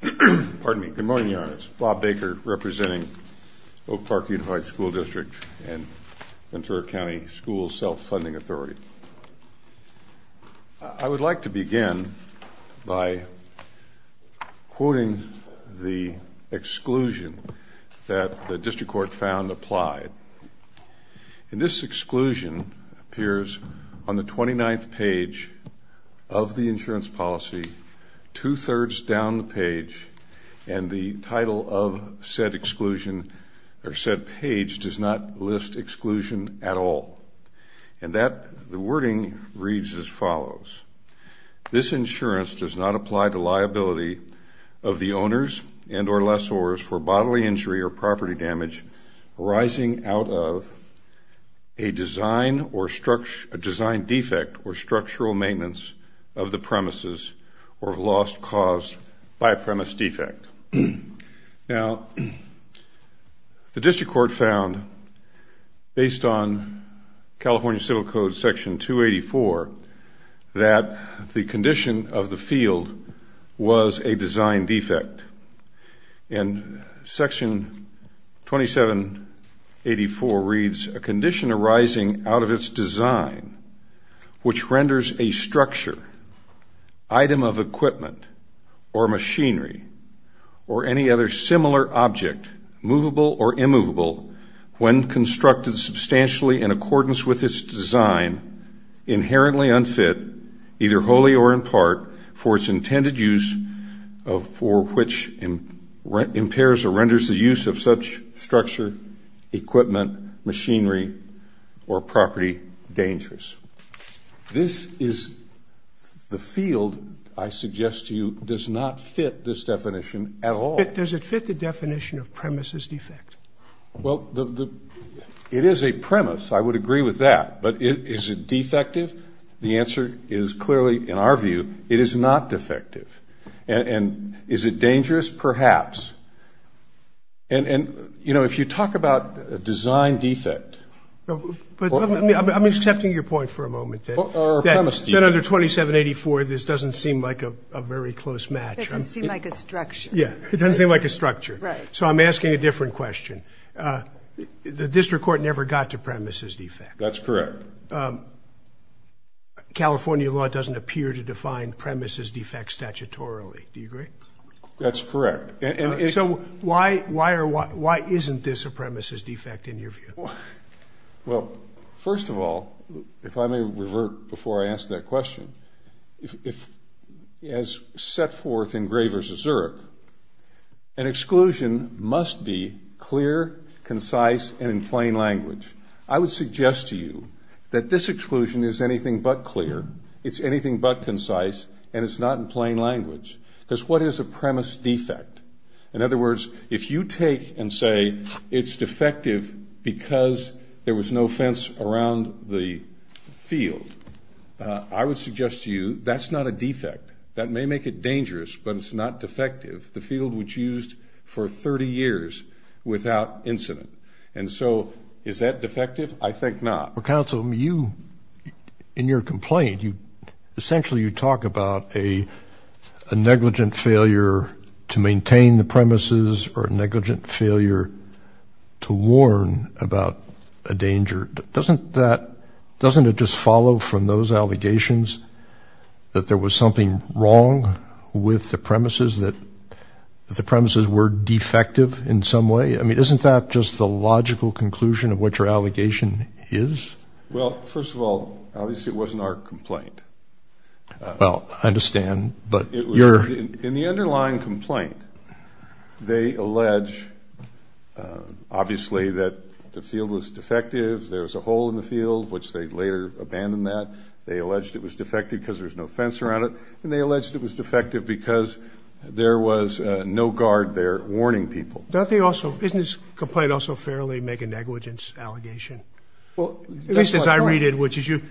Good morning, Your Honors. Bob Baker representing Oak Park Unified School District and Ventura County School Self-Funding Authority. I would like to begin by quoting the exclusion that the District Court found applied. This exclusion appears on the 29th page of the insurance policy, two-thirds down the page, and the title of said exclusion or said page does not list exclusion at all. The wording reads as follows. This insurance does not apply to liability of the owners and or lessors for bodily injury or property damage arising out of a design defect or structural maintenance of the premises or loss caused by a premise defect. Now, the District Court found, based on California Civil Code Section 284, that the condition of the field was a design defect. And Section 2784 reads, a condition arising out of its design which renders a structure, item of equipment, or machinery, or any other similar object movable or immovable when constructed substantially in accordance with its design inherently unfit, either wholly or in part, for its intended use for which impairs or renders the use of such structure, equipment, machinery, or property dangerous. This is the field, I suggest to you, does not fit this definition at all. Does it fit the definition of premises defect? Well, it is a premise. I would agree with that. But is it defective? The answer is clearly, in our view, it is not defective. And is it dangerous? Perhaps. And, you know, if you talk about a design defect or a premise defect, it doesn't seem like a structure. Yeah, it doesn't seem like a structure. So I'm asking a different question. The District Court never got to premises defect. That's correct. California law doesn't appear to define premises defect statutorily. Do you agree? That's correct. So why isn't this a premises defect, in your view? Well, first of all, if I may revert before I answer that question, if, as set forth in Zurich, an exclusion must be clear, concise, and in plain language. I would suggest to you that this exclusion is anything but clear, it's anything but concise, and it's not in plain language. Because what is a premise defect? In other words, if you take and say it's defective because there was no fence around the field, I would suggest to you that's not a defect. That may make it dangerous, but it's not defective. The field was used for 30 years without incident. And so is that defective? I think not. Well, counsel, in your complaint, essentially you talk about a negligent failure to maintain the premises or a negligent failure to warn about a danger. Doesn't it just follow from those allegations that there was something wrong with the premises, that the premises were defective in some way? I mean, isn't that just the logical conclusion of what your allegation is? Well, first of all, obviously it wasn't our complaint. Well, I understand, but your... In the underlying complaint, they allege, obviously, that the field was defective, there was a hole in the field, which they later abandoned that. They alleged it was defective because there was no fence around it, and they alleged it was defective because there was no guard there warning people. Don't they also, isn't this complaint also fairly make a negligence allegation? Well, that's what's right. At least as I read it, which is you...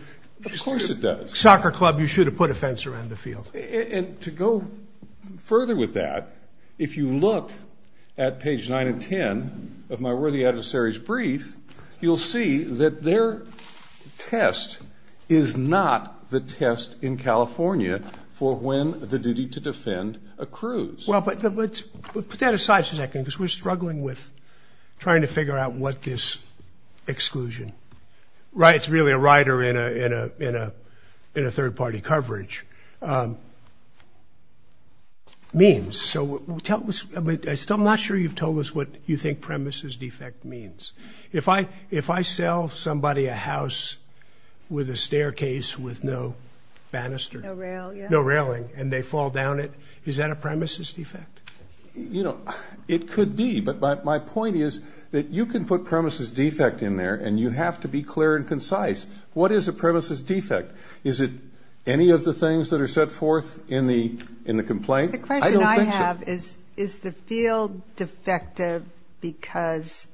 Of course it does. Soccer club, you should have put a fence around the field. And to go further with that, if you look at page 9 and 10 of my worthy adversary's brief, you'll see that their test is not the test in California for when the duty to defend accrues. Well, but let's put that aside for a second, because we're struggling with trying to figure out what this exclusion, right, it's really a rider in a third party coverage, means. So tell us, I'm not sure you've told us what you think premises defect means. If I sell somebody a house with a staircase with no banister, no railing, and they fall down it, is that a premises defect? You know, it could be, but my point is that you can put premises defect in there, and you have to be clear and concise. What is a premises defect? Is it any of the things that are set forth in the complaint? The question I have is, is the field defective because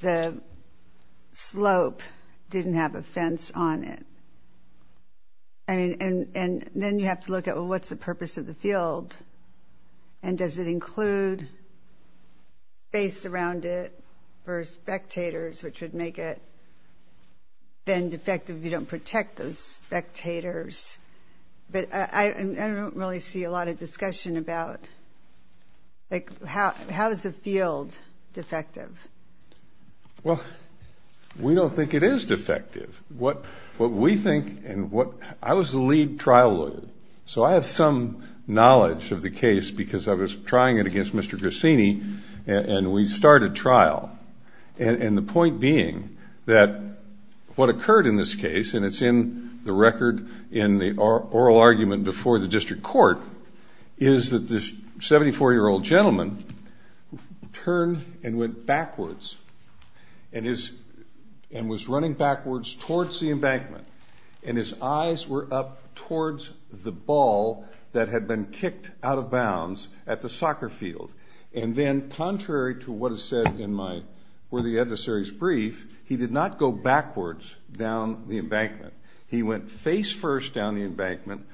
the slope didn't have a fence on it? And then you have to look at, well, what's the purpose of the field? And does it include space around it for spectators, which would make it then defective if you don't protect those spectators? But I don't really see a lot of discussion about, like, how is the field defective? Well, we don't think it is defective. What we think, and what, I was the lead trial lawyer, so I have some knowledge of the case because I was trying it against Mr. Grassini, and we started trial. And the point being that what occurred in this case, and it's in the record in the oral argument before the district court, is that this 74-year-old gentleman turned and went backwards and was running backwards towards the embankment, and his eyes were up towards the ball that had been kicked out of bounds at the soccer field. And then, contrary to what is said in my worthy adversary's brief, he did not go backwards down the embankment. He went face-first down the embankment.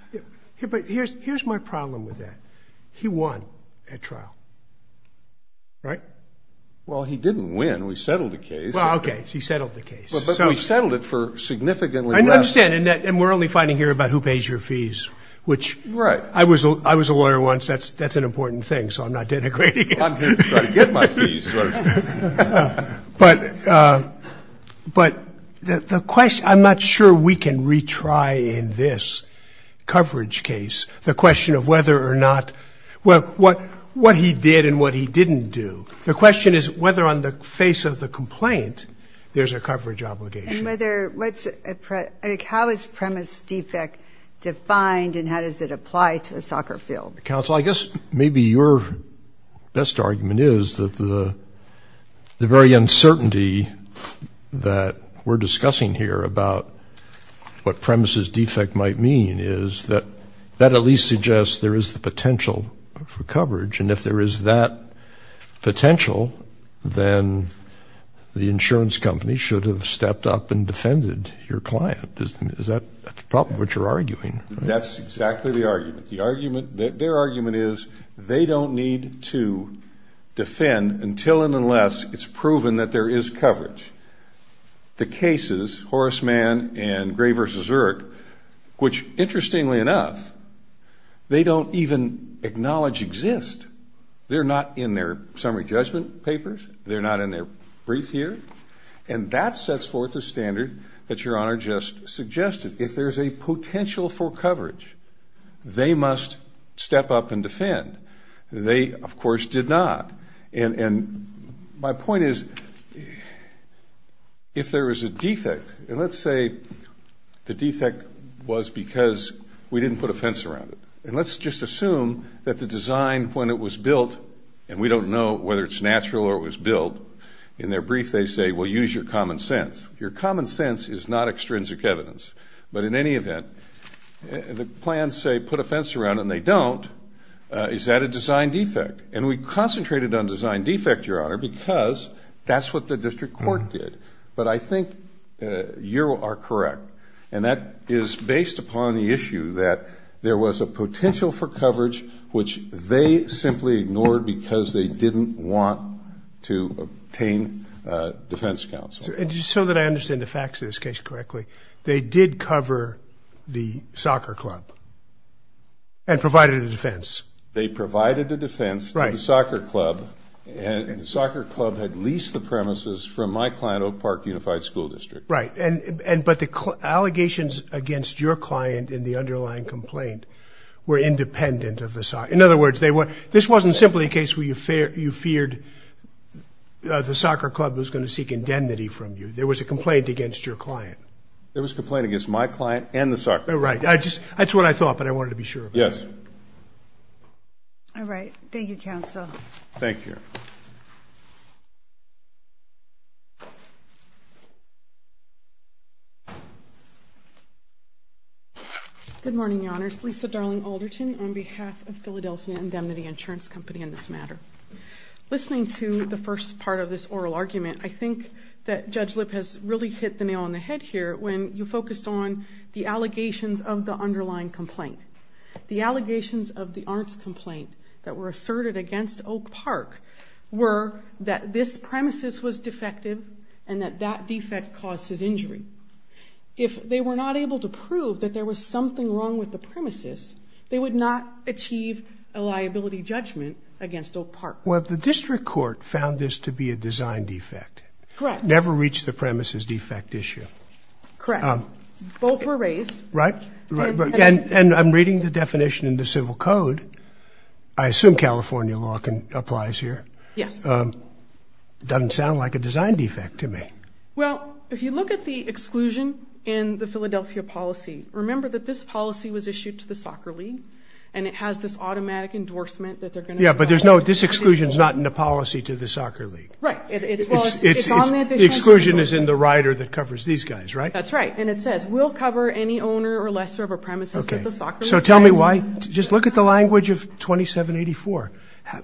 But here's my problem with that. He won at trial, right? Well, he didn't win. We settled the case. Well, okay. He settled the case. But we settled it for significantly less. I understand. And we're only fighting here about who pays your fees, which I was a lawyer once. That's an important thing. So I'm not denigrating it. I'm here to try to get my fees. But the question, I'm not sure we can retry in this coverage case the question of whether or not, what he did and what he didn't do. The question is whether on the face of the complaint, there's a coverage obligation. How is premise defect defined, and how does it apply to a soccer field? Counsel, I guess maybe your best argument is that the very uncertainty that we're discussing here about what premises defect might mean is that that at least suggests there is the potential for coverage. And if there is that potential, then the insurance company should have stepped up and defended your client. Is that the problem, what you're arguing? That's exactly the argument. The argument, their argument is they don't need to defend until and unless it's proven that there is coverage. The cases, Horace Mann and Gray v. Zurich, which interestingly enough, they don't even acknowledge exist. They're not in their summary judgment papers. They're not in their brief here. And that sets forth a standard that your honor just suggested. If there's a potential for coverage, they must step up and defend. They of course did not. And my point is, if there is a defect, and let's say the defect was because we didn't put a fence around it. And let's just assume that the design when it was built, and we don't know whether it's natural or it was built, in their brief they say, well, use your common sense. Your common sense is not extrinsic evidence. But in any event, the plans say put a fence around it and they don't. Is that a design defect? And we concentrated on design defect, your honor, because that's what the district court did. But I think you are correct. And that is based upon the issue that there was a potential for coverage which they simply ignored because they didn't want to obtain defense counsel. And just so that I understand the facts of this case correctly, they did cover the soccer club and provided a defense. They provided the defense to the soccer club and the soccer club had leased the premises from my client, Oak Park Unified School District. Right. But the allegations against your client in the underlying complaint were independent of the soccer. In other words, this wasn't simply a case where you feared the soccer club was going to seek indemnity from you. There was a complaint against your client. There was a complaint against my client and the soccer club. Right. That's what I thought, but I wanted to be sure of that. Yes. All right. Thank you, counsel. Thank you. Good morning, your honors. Lisa Darling Alderton on behalf of Philadelphia Indemnity Insurance Company in this matter. Listening to the first part of this oral argument, I think that Judge Lipp has really hit the nail on the head here when you focused on the allegations of the underlying complaint. The allegations of the arms complaint that were asserted against Oak Park were that this premises was defective and that that defect causes injury. If they were not able to prove that there was something wrong with the premises, they would not achieve a liability judgment against Oak Park. Well, the district court found this to be a design defect. Correct. Never reached the premises defect issue. Correct. Both were raised. Right. Right. And I'm reading the definition in the civil code. I assume California law applies here. Yes. Doesn't sound like a design defect to me. Well, if you look at the exclusion in the Philadelphia policy, remember that this policy was issued to the soccer league and it has this automatic endorsement that they're going to. Yeah. But there's no, this exclusion is not in the policy to the soccer league, right? Exclusion is in the rider that covers these guys, right? That's right. And it says we'll cover any owner or lessor of a premises that the soccer league has. So tell me why, just look at the language of 2784.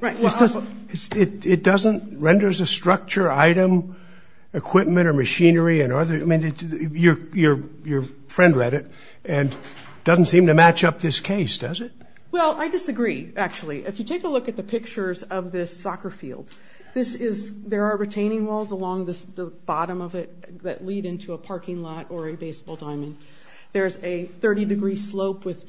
It doesn't, renders a structure, item, equipment or machinery and other, I mean, your friend read it and doesn't seem to match up this case, does it? Well, I disagree actually. If you take a look at the pictures of this soccer field, this is, there are retaining walls along the bottom of it that lead into a parking lot or a baseball diamond. There's a 30 degree slope with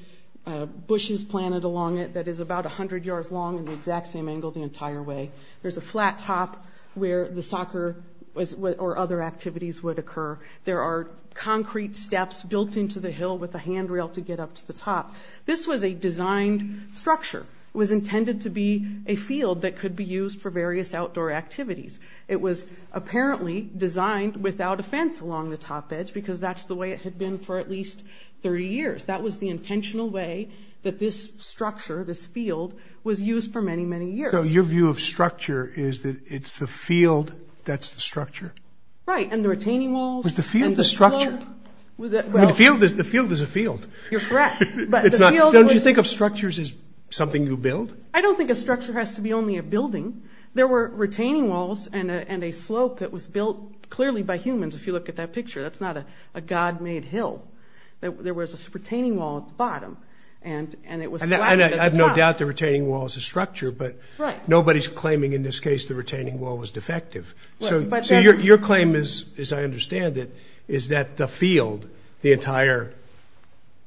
bushes planted along it that is about a hundred yards long and the exact same angle the entire way. There's a flat top where the soccer was or other activities would occur. There are concrete steps built into the hill with a handrail to get up to the top. This was a designed structure. It was intended to be a field that could be used for various outdoor activities. It was apparently designed without a fence along the top edge because that's the way it had been for at least 30 years. That was the intentional way that this structure, this field was used for many, many years. So your view of structure is that it's the field that's the structure? Right. And the retaining walls? Was the field the structure? I mean, the field is a field. You're correct. Don't you think of structures as something you build? I don't think a structure has to be only a building. There were retaining walls and a slope that was built clearly by humans if you look at that picture. That's not a God made hill. There was a retaining wall at the bottom and it was flat at the top. I have no doubt the retaining wall is a structure, but nobody's claiming in this case the retaining wall was defective. So your claim is, as I understand it, is that the field, the entire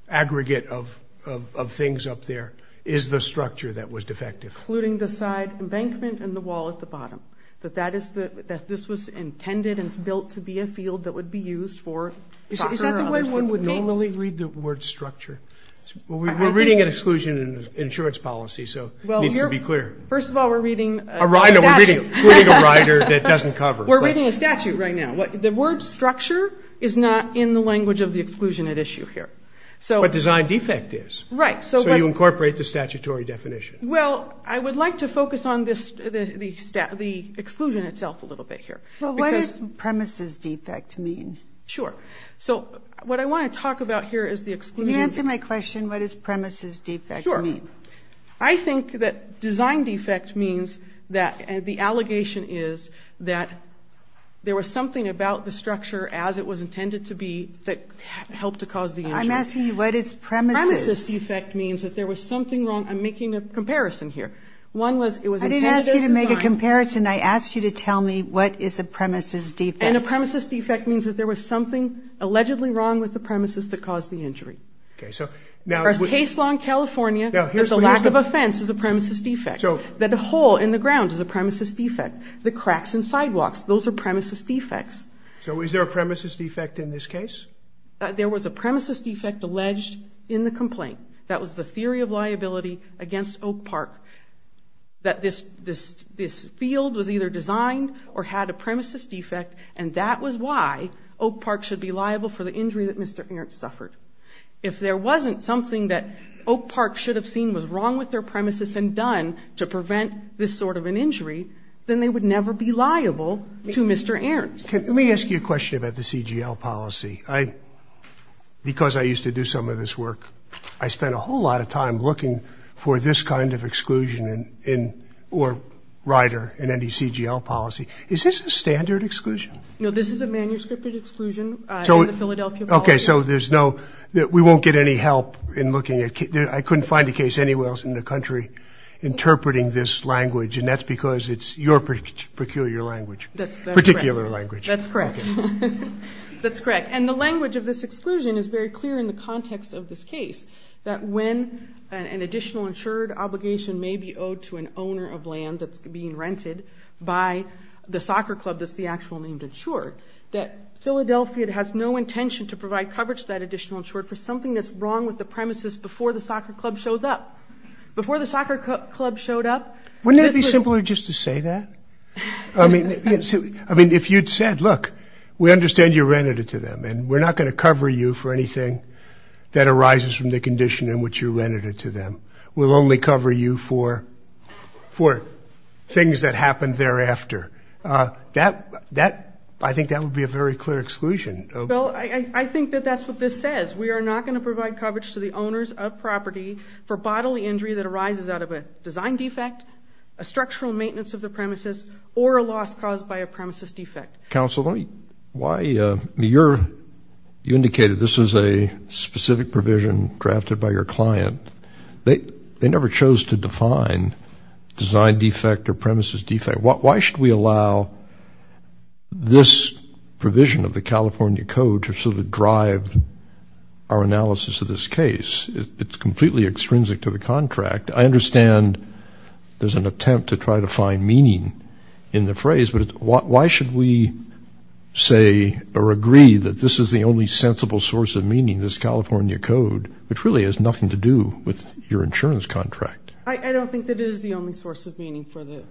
aggregate of things up there is the structure that was defective? Including the side embankment and the wall at the bottom. That this was intended and built to be a field that would be used for soccer or other sports games. Is that the way one would normally read the word structure? We're reading an exclusion in insurance policy, so it needs to be clear. First of all, we're reading a stash. We're reading a rider that doesn't cover. We're reading a statute right now. The word structure is not in the language of the exclusion at issue here. But design defect is. Right. So you incorporate the statutory definition. Well, I would like to focus on the exclusion itself a little bit here. Well, what does premises defect mean? Sure. So what I want to talk about here is the exclusion. Can you answer my question? What does premises defect mean? Sure. I think that design defect means that the allegation is that there was something about the structure as it was intended to be that helped to cause the injury. I'm asking you, what is premises? Premises defect means that there was something wrong. I'm making a comparison here. One was it was intended as design. I didn't ask you to make a comparison. I asked you to tell me what is a premises defect. And a premises defect means that there was something allegedly wrong with the premises that caused the injury. Okay. So now. There is case law in California that the lack of a fence is a premises defect. That a hole in the ground is a premises defect. The cracks in sidewalks, those are premises defects. So is there a premises defect in this case? There was a premises defect alleged in the complaint. That was the theory of liability against Oak Park. That this field was either designed or had a premises defect. And that was why Oak Park should be liable for the injury that Mr. Ernst suffered. If there wasn't something that Oak Park should have seen was wrong with their premises and done to prevent this sort of an injury, then they would never be liable to Mr. Ernst. Let me ask you a question about the CGL policy. Because I used to do some of this work, I spent a whole lot of time looking for this kind of exclusion or rider in any CGL policy. Is this a standard exclusion? No, this is a manuscript exclusion in the Philadelphia policy. Okay, so there's no, we won't get any help in looking at, I couldn't find a case anywhere else in the country interpreting this language. And that's because it's your peculiar language, particular language. That's correct, that's correct. And the language of this exclusion is very clear in the context of this case. That when an additional insured obligation may be owed to an owner of land that's being rented by the soccer club that's the actual name insured. That Philadelphia has no intention to provide coverage to that additional insured for something that's wrong with the premises before the soccer club shows up. Before the soccer club showed up- Wouldn't it be simpler just to say that? I mean, if you'd said, look, we understand you rented it to them and we're not going to cover you for anything that arises from the condition in which you rented it to them. We'll only cover you for things that happened thereafter. That, I think that would be a very clear exclusion. Well, I think that that's what this says. We are not going to provide coverage to the owners of property for bodily injury that arises out of a design defect, a structural maintenance of the premises, or a loss caused by a premises defect. Counsel, you indicated this was a specific provision drafted by your client. They never chose to define design defect or premises defect. Why should we allow this provision of the California code to sort of drive our analysis of this case? It's completely extrinsic to the contract. I understand there's an attempt to try to find meaning in the phrase, but why should we say or agree that this is the only sensible source of meaning, this California code, which really has nothing to do with your insurance contract? I don't think that it is the only source of meaning for the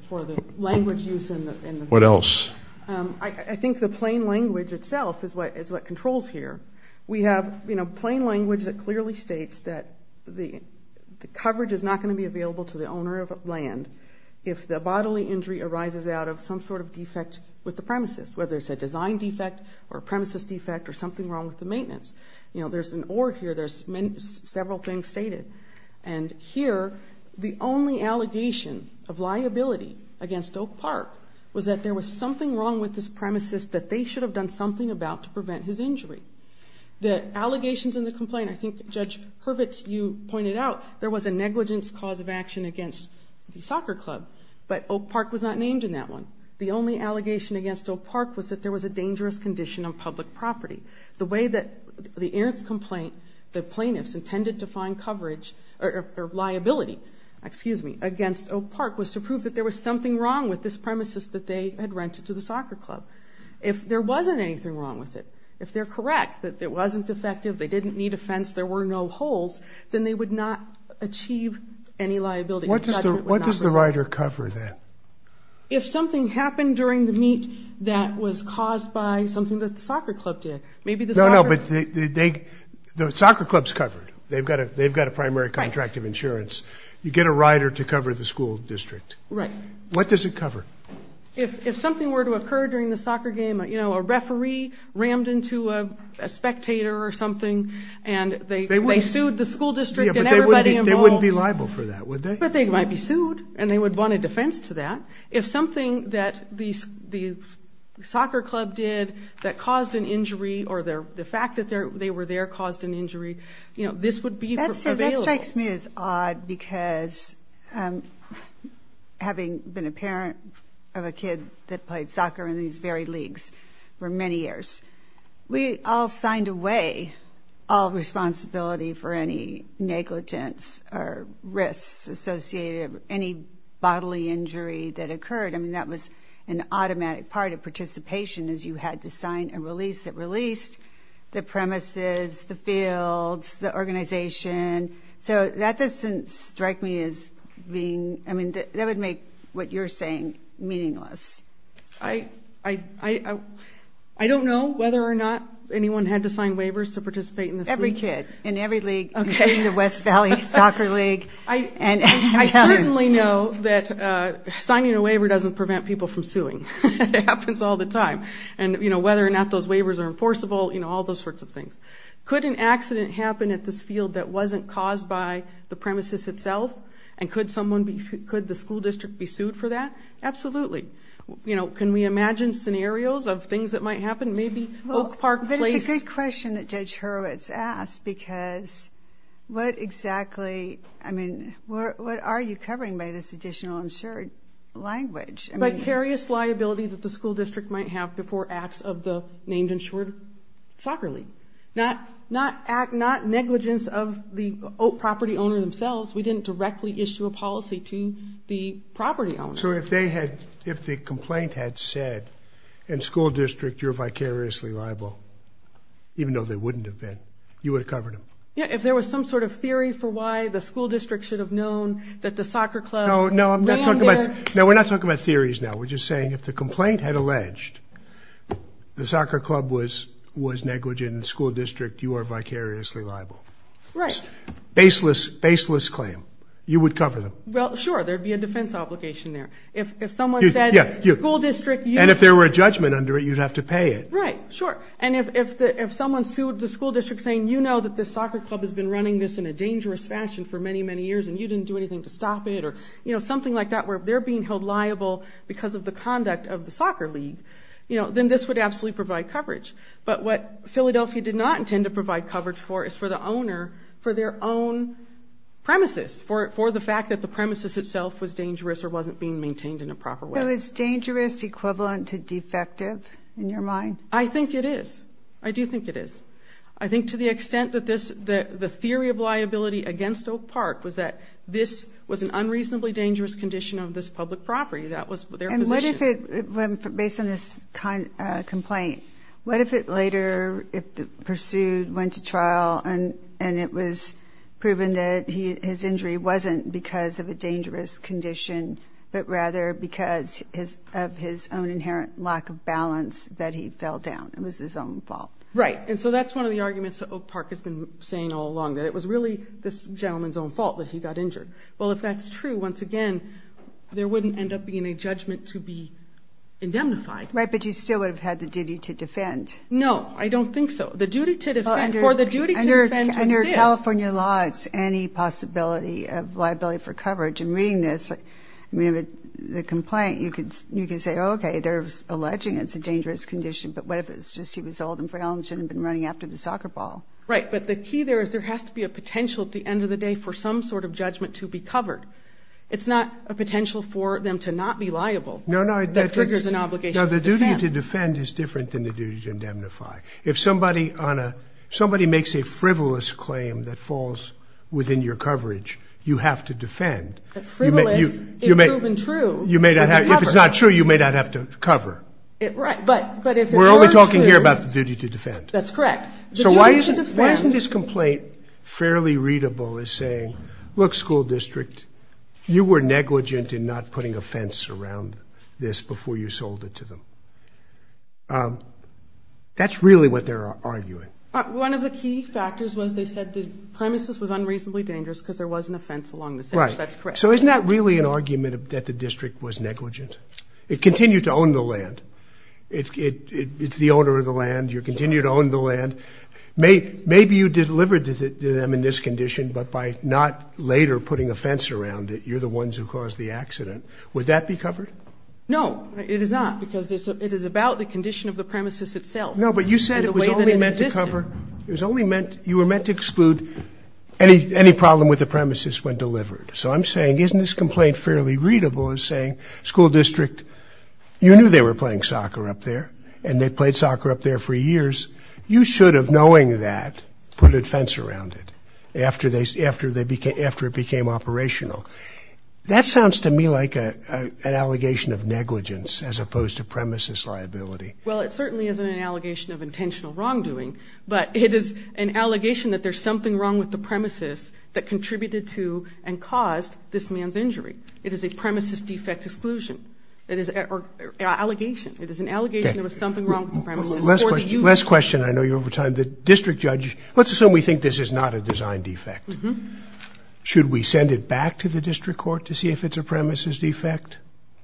language used in the- What else? I think the plain language itself is what controls here. We have plain language that clearly states that the coverage is not going to be available to the owner of land if the bodily injury arises out of some sort of defect with the premises, whether it's a design defect or a premises defect or something wrong with the maintenance. There's an or here. There's several things stated. And here, the only allegation of liability against Oak Park was that there was something wrong with this premises that they should have done something about to prevent his injury. The allegations in the complaint, I think Judge Hurwitz, you pointed out there was a negligence cause of action against the soccer club. But Oak Park was not named in that one. The only allegation against Oak Park was that there was a dangerous condition of public property. The way that the earnest complaint, the plaintiffs intended to find coverage or liability, excuse me, against Oak Park was to prove that there was something wrong with this premises that they had rented to the soccer club. If there wasn't anything wrong with it, if they're correct that it wasn't defective, they didn't need a fence, there were no holes, then they would not achieve any liability. What does the writer cover then? If something happened during the meet that was caused by something that the soccer club's covered. They've got a primary contract of insurance. You get a writer to cover the school district. Right. What does it cover? If something were to occur during the soccer game, a referee rammed into a spectator or something and they sued the school district and everybody involved. They wouldn't be liable for that, would they? But they might be sued and they would want a defense to that. If something that the soccer club did that caused an injury or the fact that they were there caused an injury, this would be available. That strikes me as odd because having been a parent of a kid that played soccer in these very leagues for many years, we all signed away all responsibility for any negligence or risks associated, any bodily injury that occurred. I mean, that was an automatic part of participation is you had to sign a release that released the premises, the fields, the organization. So that doesn't strike me as being, I mean, that would make what you're saying meaningless. I don't know whether or not anyone had to sign waivers to participate in this league. Every kid in every league, including the West Valley Soccer League. I certainly know that signing a waiver doesn't prevent people from suing. It happens all the time. And whether or not those waivers are enforceable, all those sorts of things. Could an accident happen at this field that wasn't caused by the premises itself? And could the school district be sued for that? Absolutely. Can we imagine scenarios of things that might happen? Maybe Oak Park placed- I mean, what are you covering by this additional insured language? Vicarious liability that the school district might have before acts of the named insured soccer league. Not negligence of the property owner themselves. We didn't directly issue a policy to the property owner. So if the complaint had said, in school district, you're vicariously liable, even though they wouldn't have been, you would have covered them? Yeah, if there was some sort of theory for why the school district should have known that the soccer club- No, no, I'm not talking about- No, we're not talking about theories now. We're just saying if the complaint had alleged the soccer club was negligent in the school district, you are vicariously liable. Right. Baseless, baseless claim. You would cover them. Well, sure. There'd be a defense obligation there. If someone said, school district, you- And if there were a judgment under it, you'd have to pay it. Right. Sure. And if someone sued the school district saying, you know that this soccer club has been running this in a dangerous fashion for many, many years, and you didn't do anything to stop it, or something like that, where they're being held liable because of the conduct of the soccer league, then this would absolutely provide coverage. But what Philadelphia did not intend to provide coverage for is for the owner for their own premises, for the fact that the premises itself was dangerous or wasn't being maintained in a proper way. So is dangerous equivalent to defective, in your mind? I think it is. I do think it is. I think to the extent that the theory of liability against Oak Park was that this was an unreasonably dangerous condition of this public property. That was their position. And what if it, based on this kind of complaint, what if it later, if the pursuit went to trial and it was proven that his injury wasn't because of a dangerous condition, but rather because of his own inherent lack of balance, that he fell down. It was his own fault. Right, and so that's one of the arguments that Oak Park has been saying all along, that it was really this gentleman's own fault that he got injured. Well, if that's true, once again, there wouldn't end up being a judgment to be indemnified. Right, but you still would have had the duty to defend. No, I don't think so. The duty to defend, for the duty to defend exists. Under California law, it's any possibility of liability for coverage. In reading this, I mean, the complaint, you could say, okay, they're alleging it's a dangerous condition, but what if it's just he was old and frail and shouldn't have been running after the soccer ball? Right, but the key there is there has to be a potential at the end of the day for some sort of judgment to be covered. It's not a potential for them to not be liable. No, no. That triggers an obligation to defend. No, the duty to defend is different than the duty to indemnify. If somebody makes a frivolous claim that falls within your coverage, you have to defend. That frivolous is proven true. You may not have, if it's not true, you may not have to cover. Right, but if it were true. We're only talking here about the duty to defend. That's correct. So why isn't this complaint fairly readable as saying, look, school district, you were negligent in not putting a fence around this before you sold it to them. That's really what they're arguing. One of the key factors was they said the premises was unreasonably dangerous because there wasn't a fence along the center. That's correct. So isn't that really an argument that the district was negligent? It continued to own the land. It's the owner of the land. You continue to own the land. Maybe you delivered to them in this condition, but by not later putting a fence around it, you're the ones who caused the accident. Would that be covered? No, it is not, because it is about the condition of the premises itself. No, but you said it was only meant to cover, it was only meant, you were meant to exclude any problem with the premises when delivered. So I'm saying, isn't this complaint fairly readable as saying, school district, you knew they were playing soccer up there, and they played soccer up there for years. You should have, knowing that, put a fence around it after it became operational. That sounds to me like an allegation of negligence as opposed to premises liability. Well, it certainly isn't an allegation of intentional wrongdoing, but it is an allegation that there's something wrong with the premises that contributed to and caused this man's injury. It is a premises defect exclusion. It is an allegation. It is an allegation there was something wrong with the premises. Last question, I know you're over time. The district judge, let's assume we think this is not a design defect. Should we send it back to the district court to see if it's a premises defect?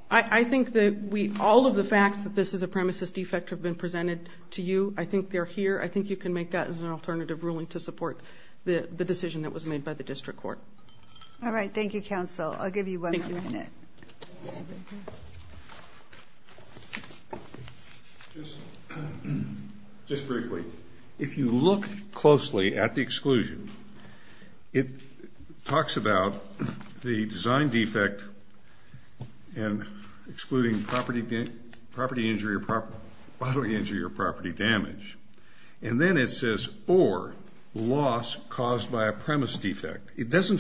I think that all of the facts that this is a premises defect have been presented to you. I think they're here. I think you can make that as an alternative ruling to support the decision that was made by the district court. All right, thank you, counsel. I'll give you one more minute. Just briefly, if you look closely at the exclusion, it talks about the design defect and excluding property injury or property damage. And then it says, or loss caused by a premise defect. It doesn't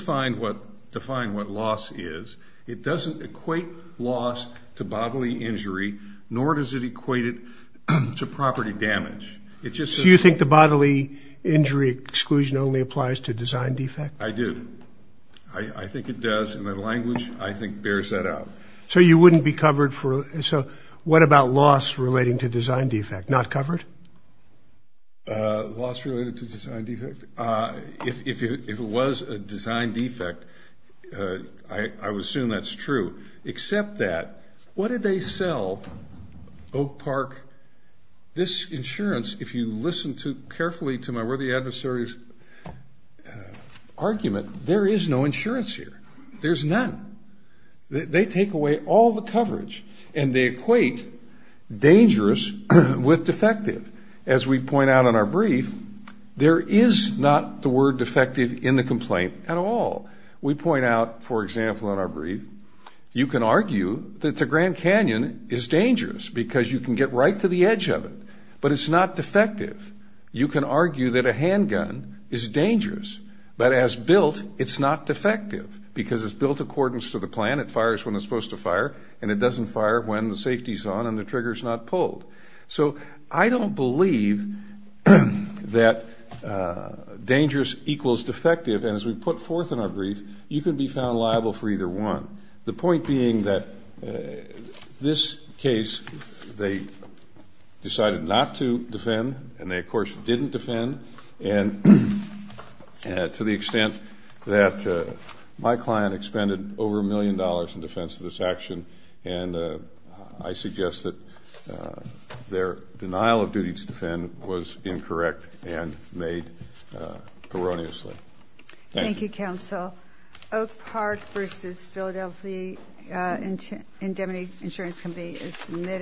define what loss is. It doesn't equate loss to bodily injury, nor does it equate it to property damage. It just says- So you think the bodily injury exclusion only applies to design defect? I do. I think it does, and the language, I think, bears that out. So you wouldn't be covered for- so what about loss relating to design defect? Not covered? Loss related to design defect? If it was a design defect, I would assume that's true. Except that, what did they sell Oak Park, this insurance, if you listen carefully to my worthy adversary's argument, there is no insurance here. There's none. They take away all the coverage, and they equate dangerous with defective. As we point out in our brief, there is not the word defective in the complaint at all. We point out, for example, in our brief, you can argue that the Grand Canyon is dangerous because you can get right to the edge of it, but it's not defective. You can argue that a handgun is dangerous, but as built, it's not defective because it's built according to the plan. It fires when it's supposed to fire, and it doesn't fire when the safety's on and the trigger's not pulled. So I don't believe that dangerous equals defective, and as we put forth in our brief, you can be found liable for either one. The point being that this case, they decided not to defend, and they, of course, didn't defend, and to the extent that my client expended over a million dollars in defense of this action, and I suggest that their denial of duty to defend was incorrect and made erroneously. Thank you. Thank you, Counsel. Oak Park v. Philadelphia Indemnity Insurance Company is submitted.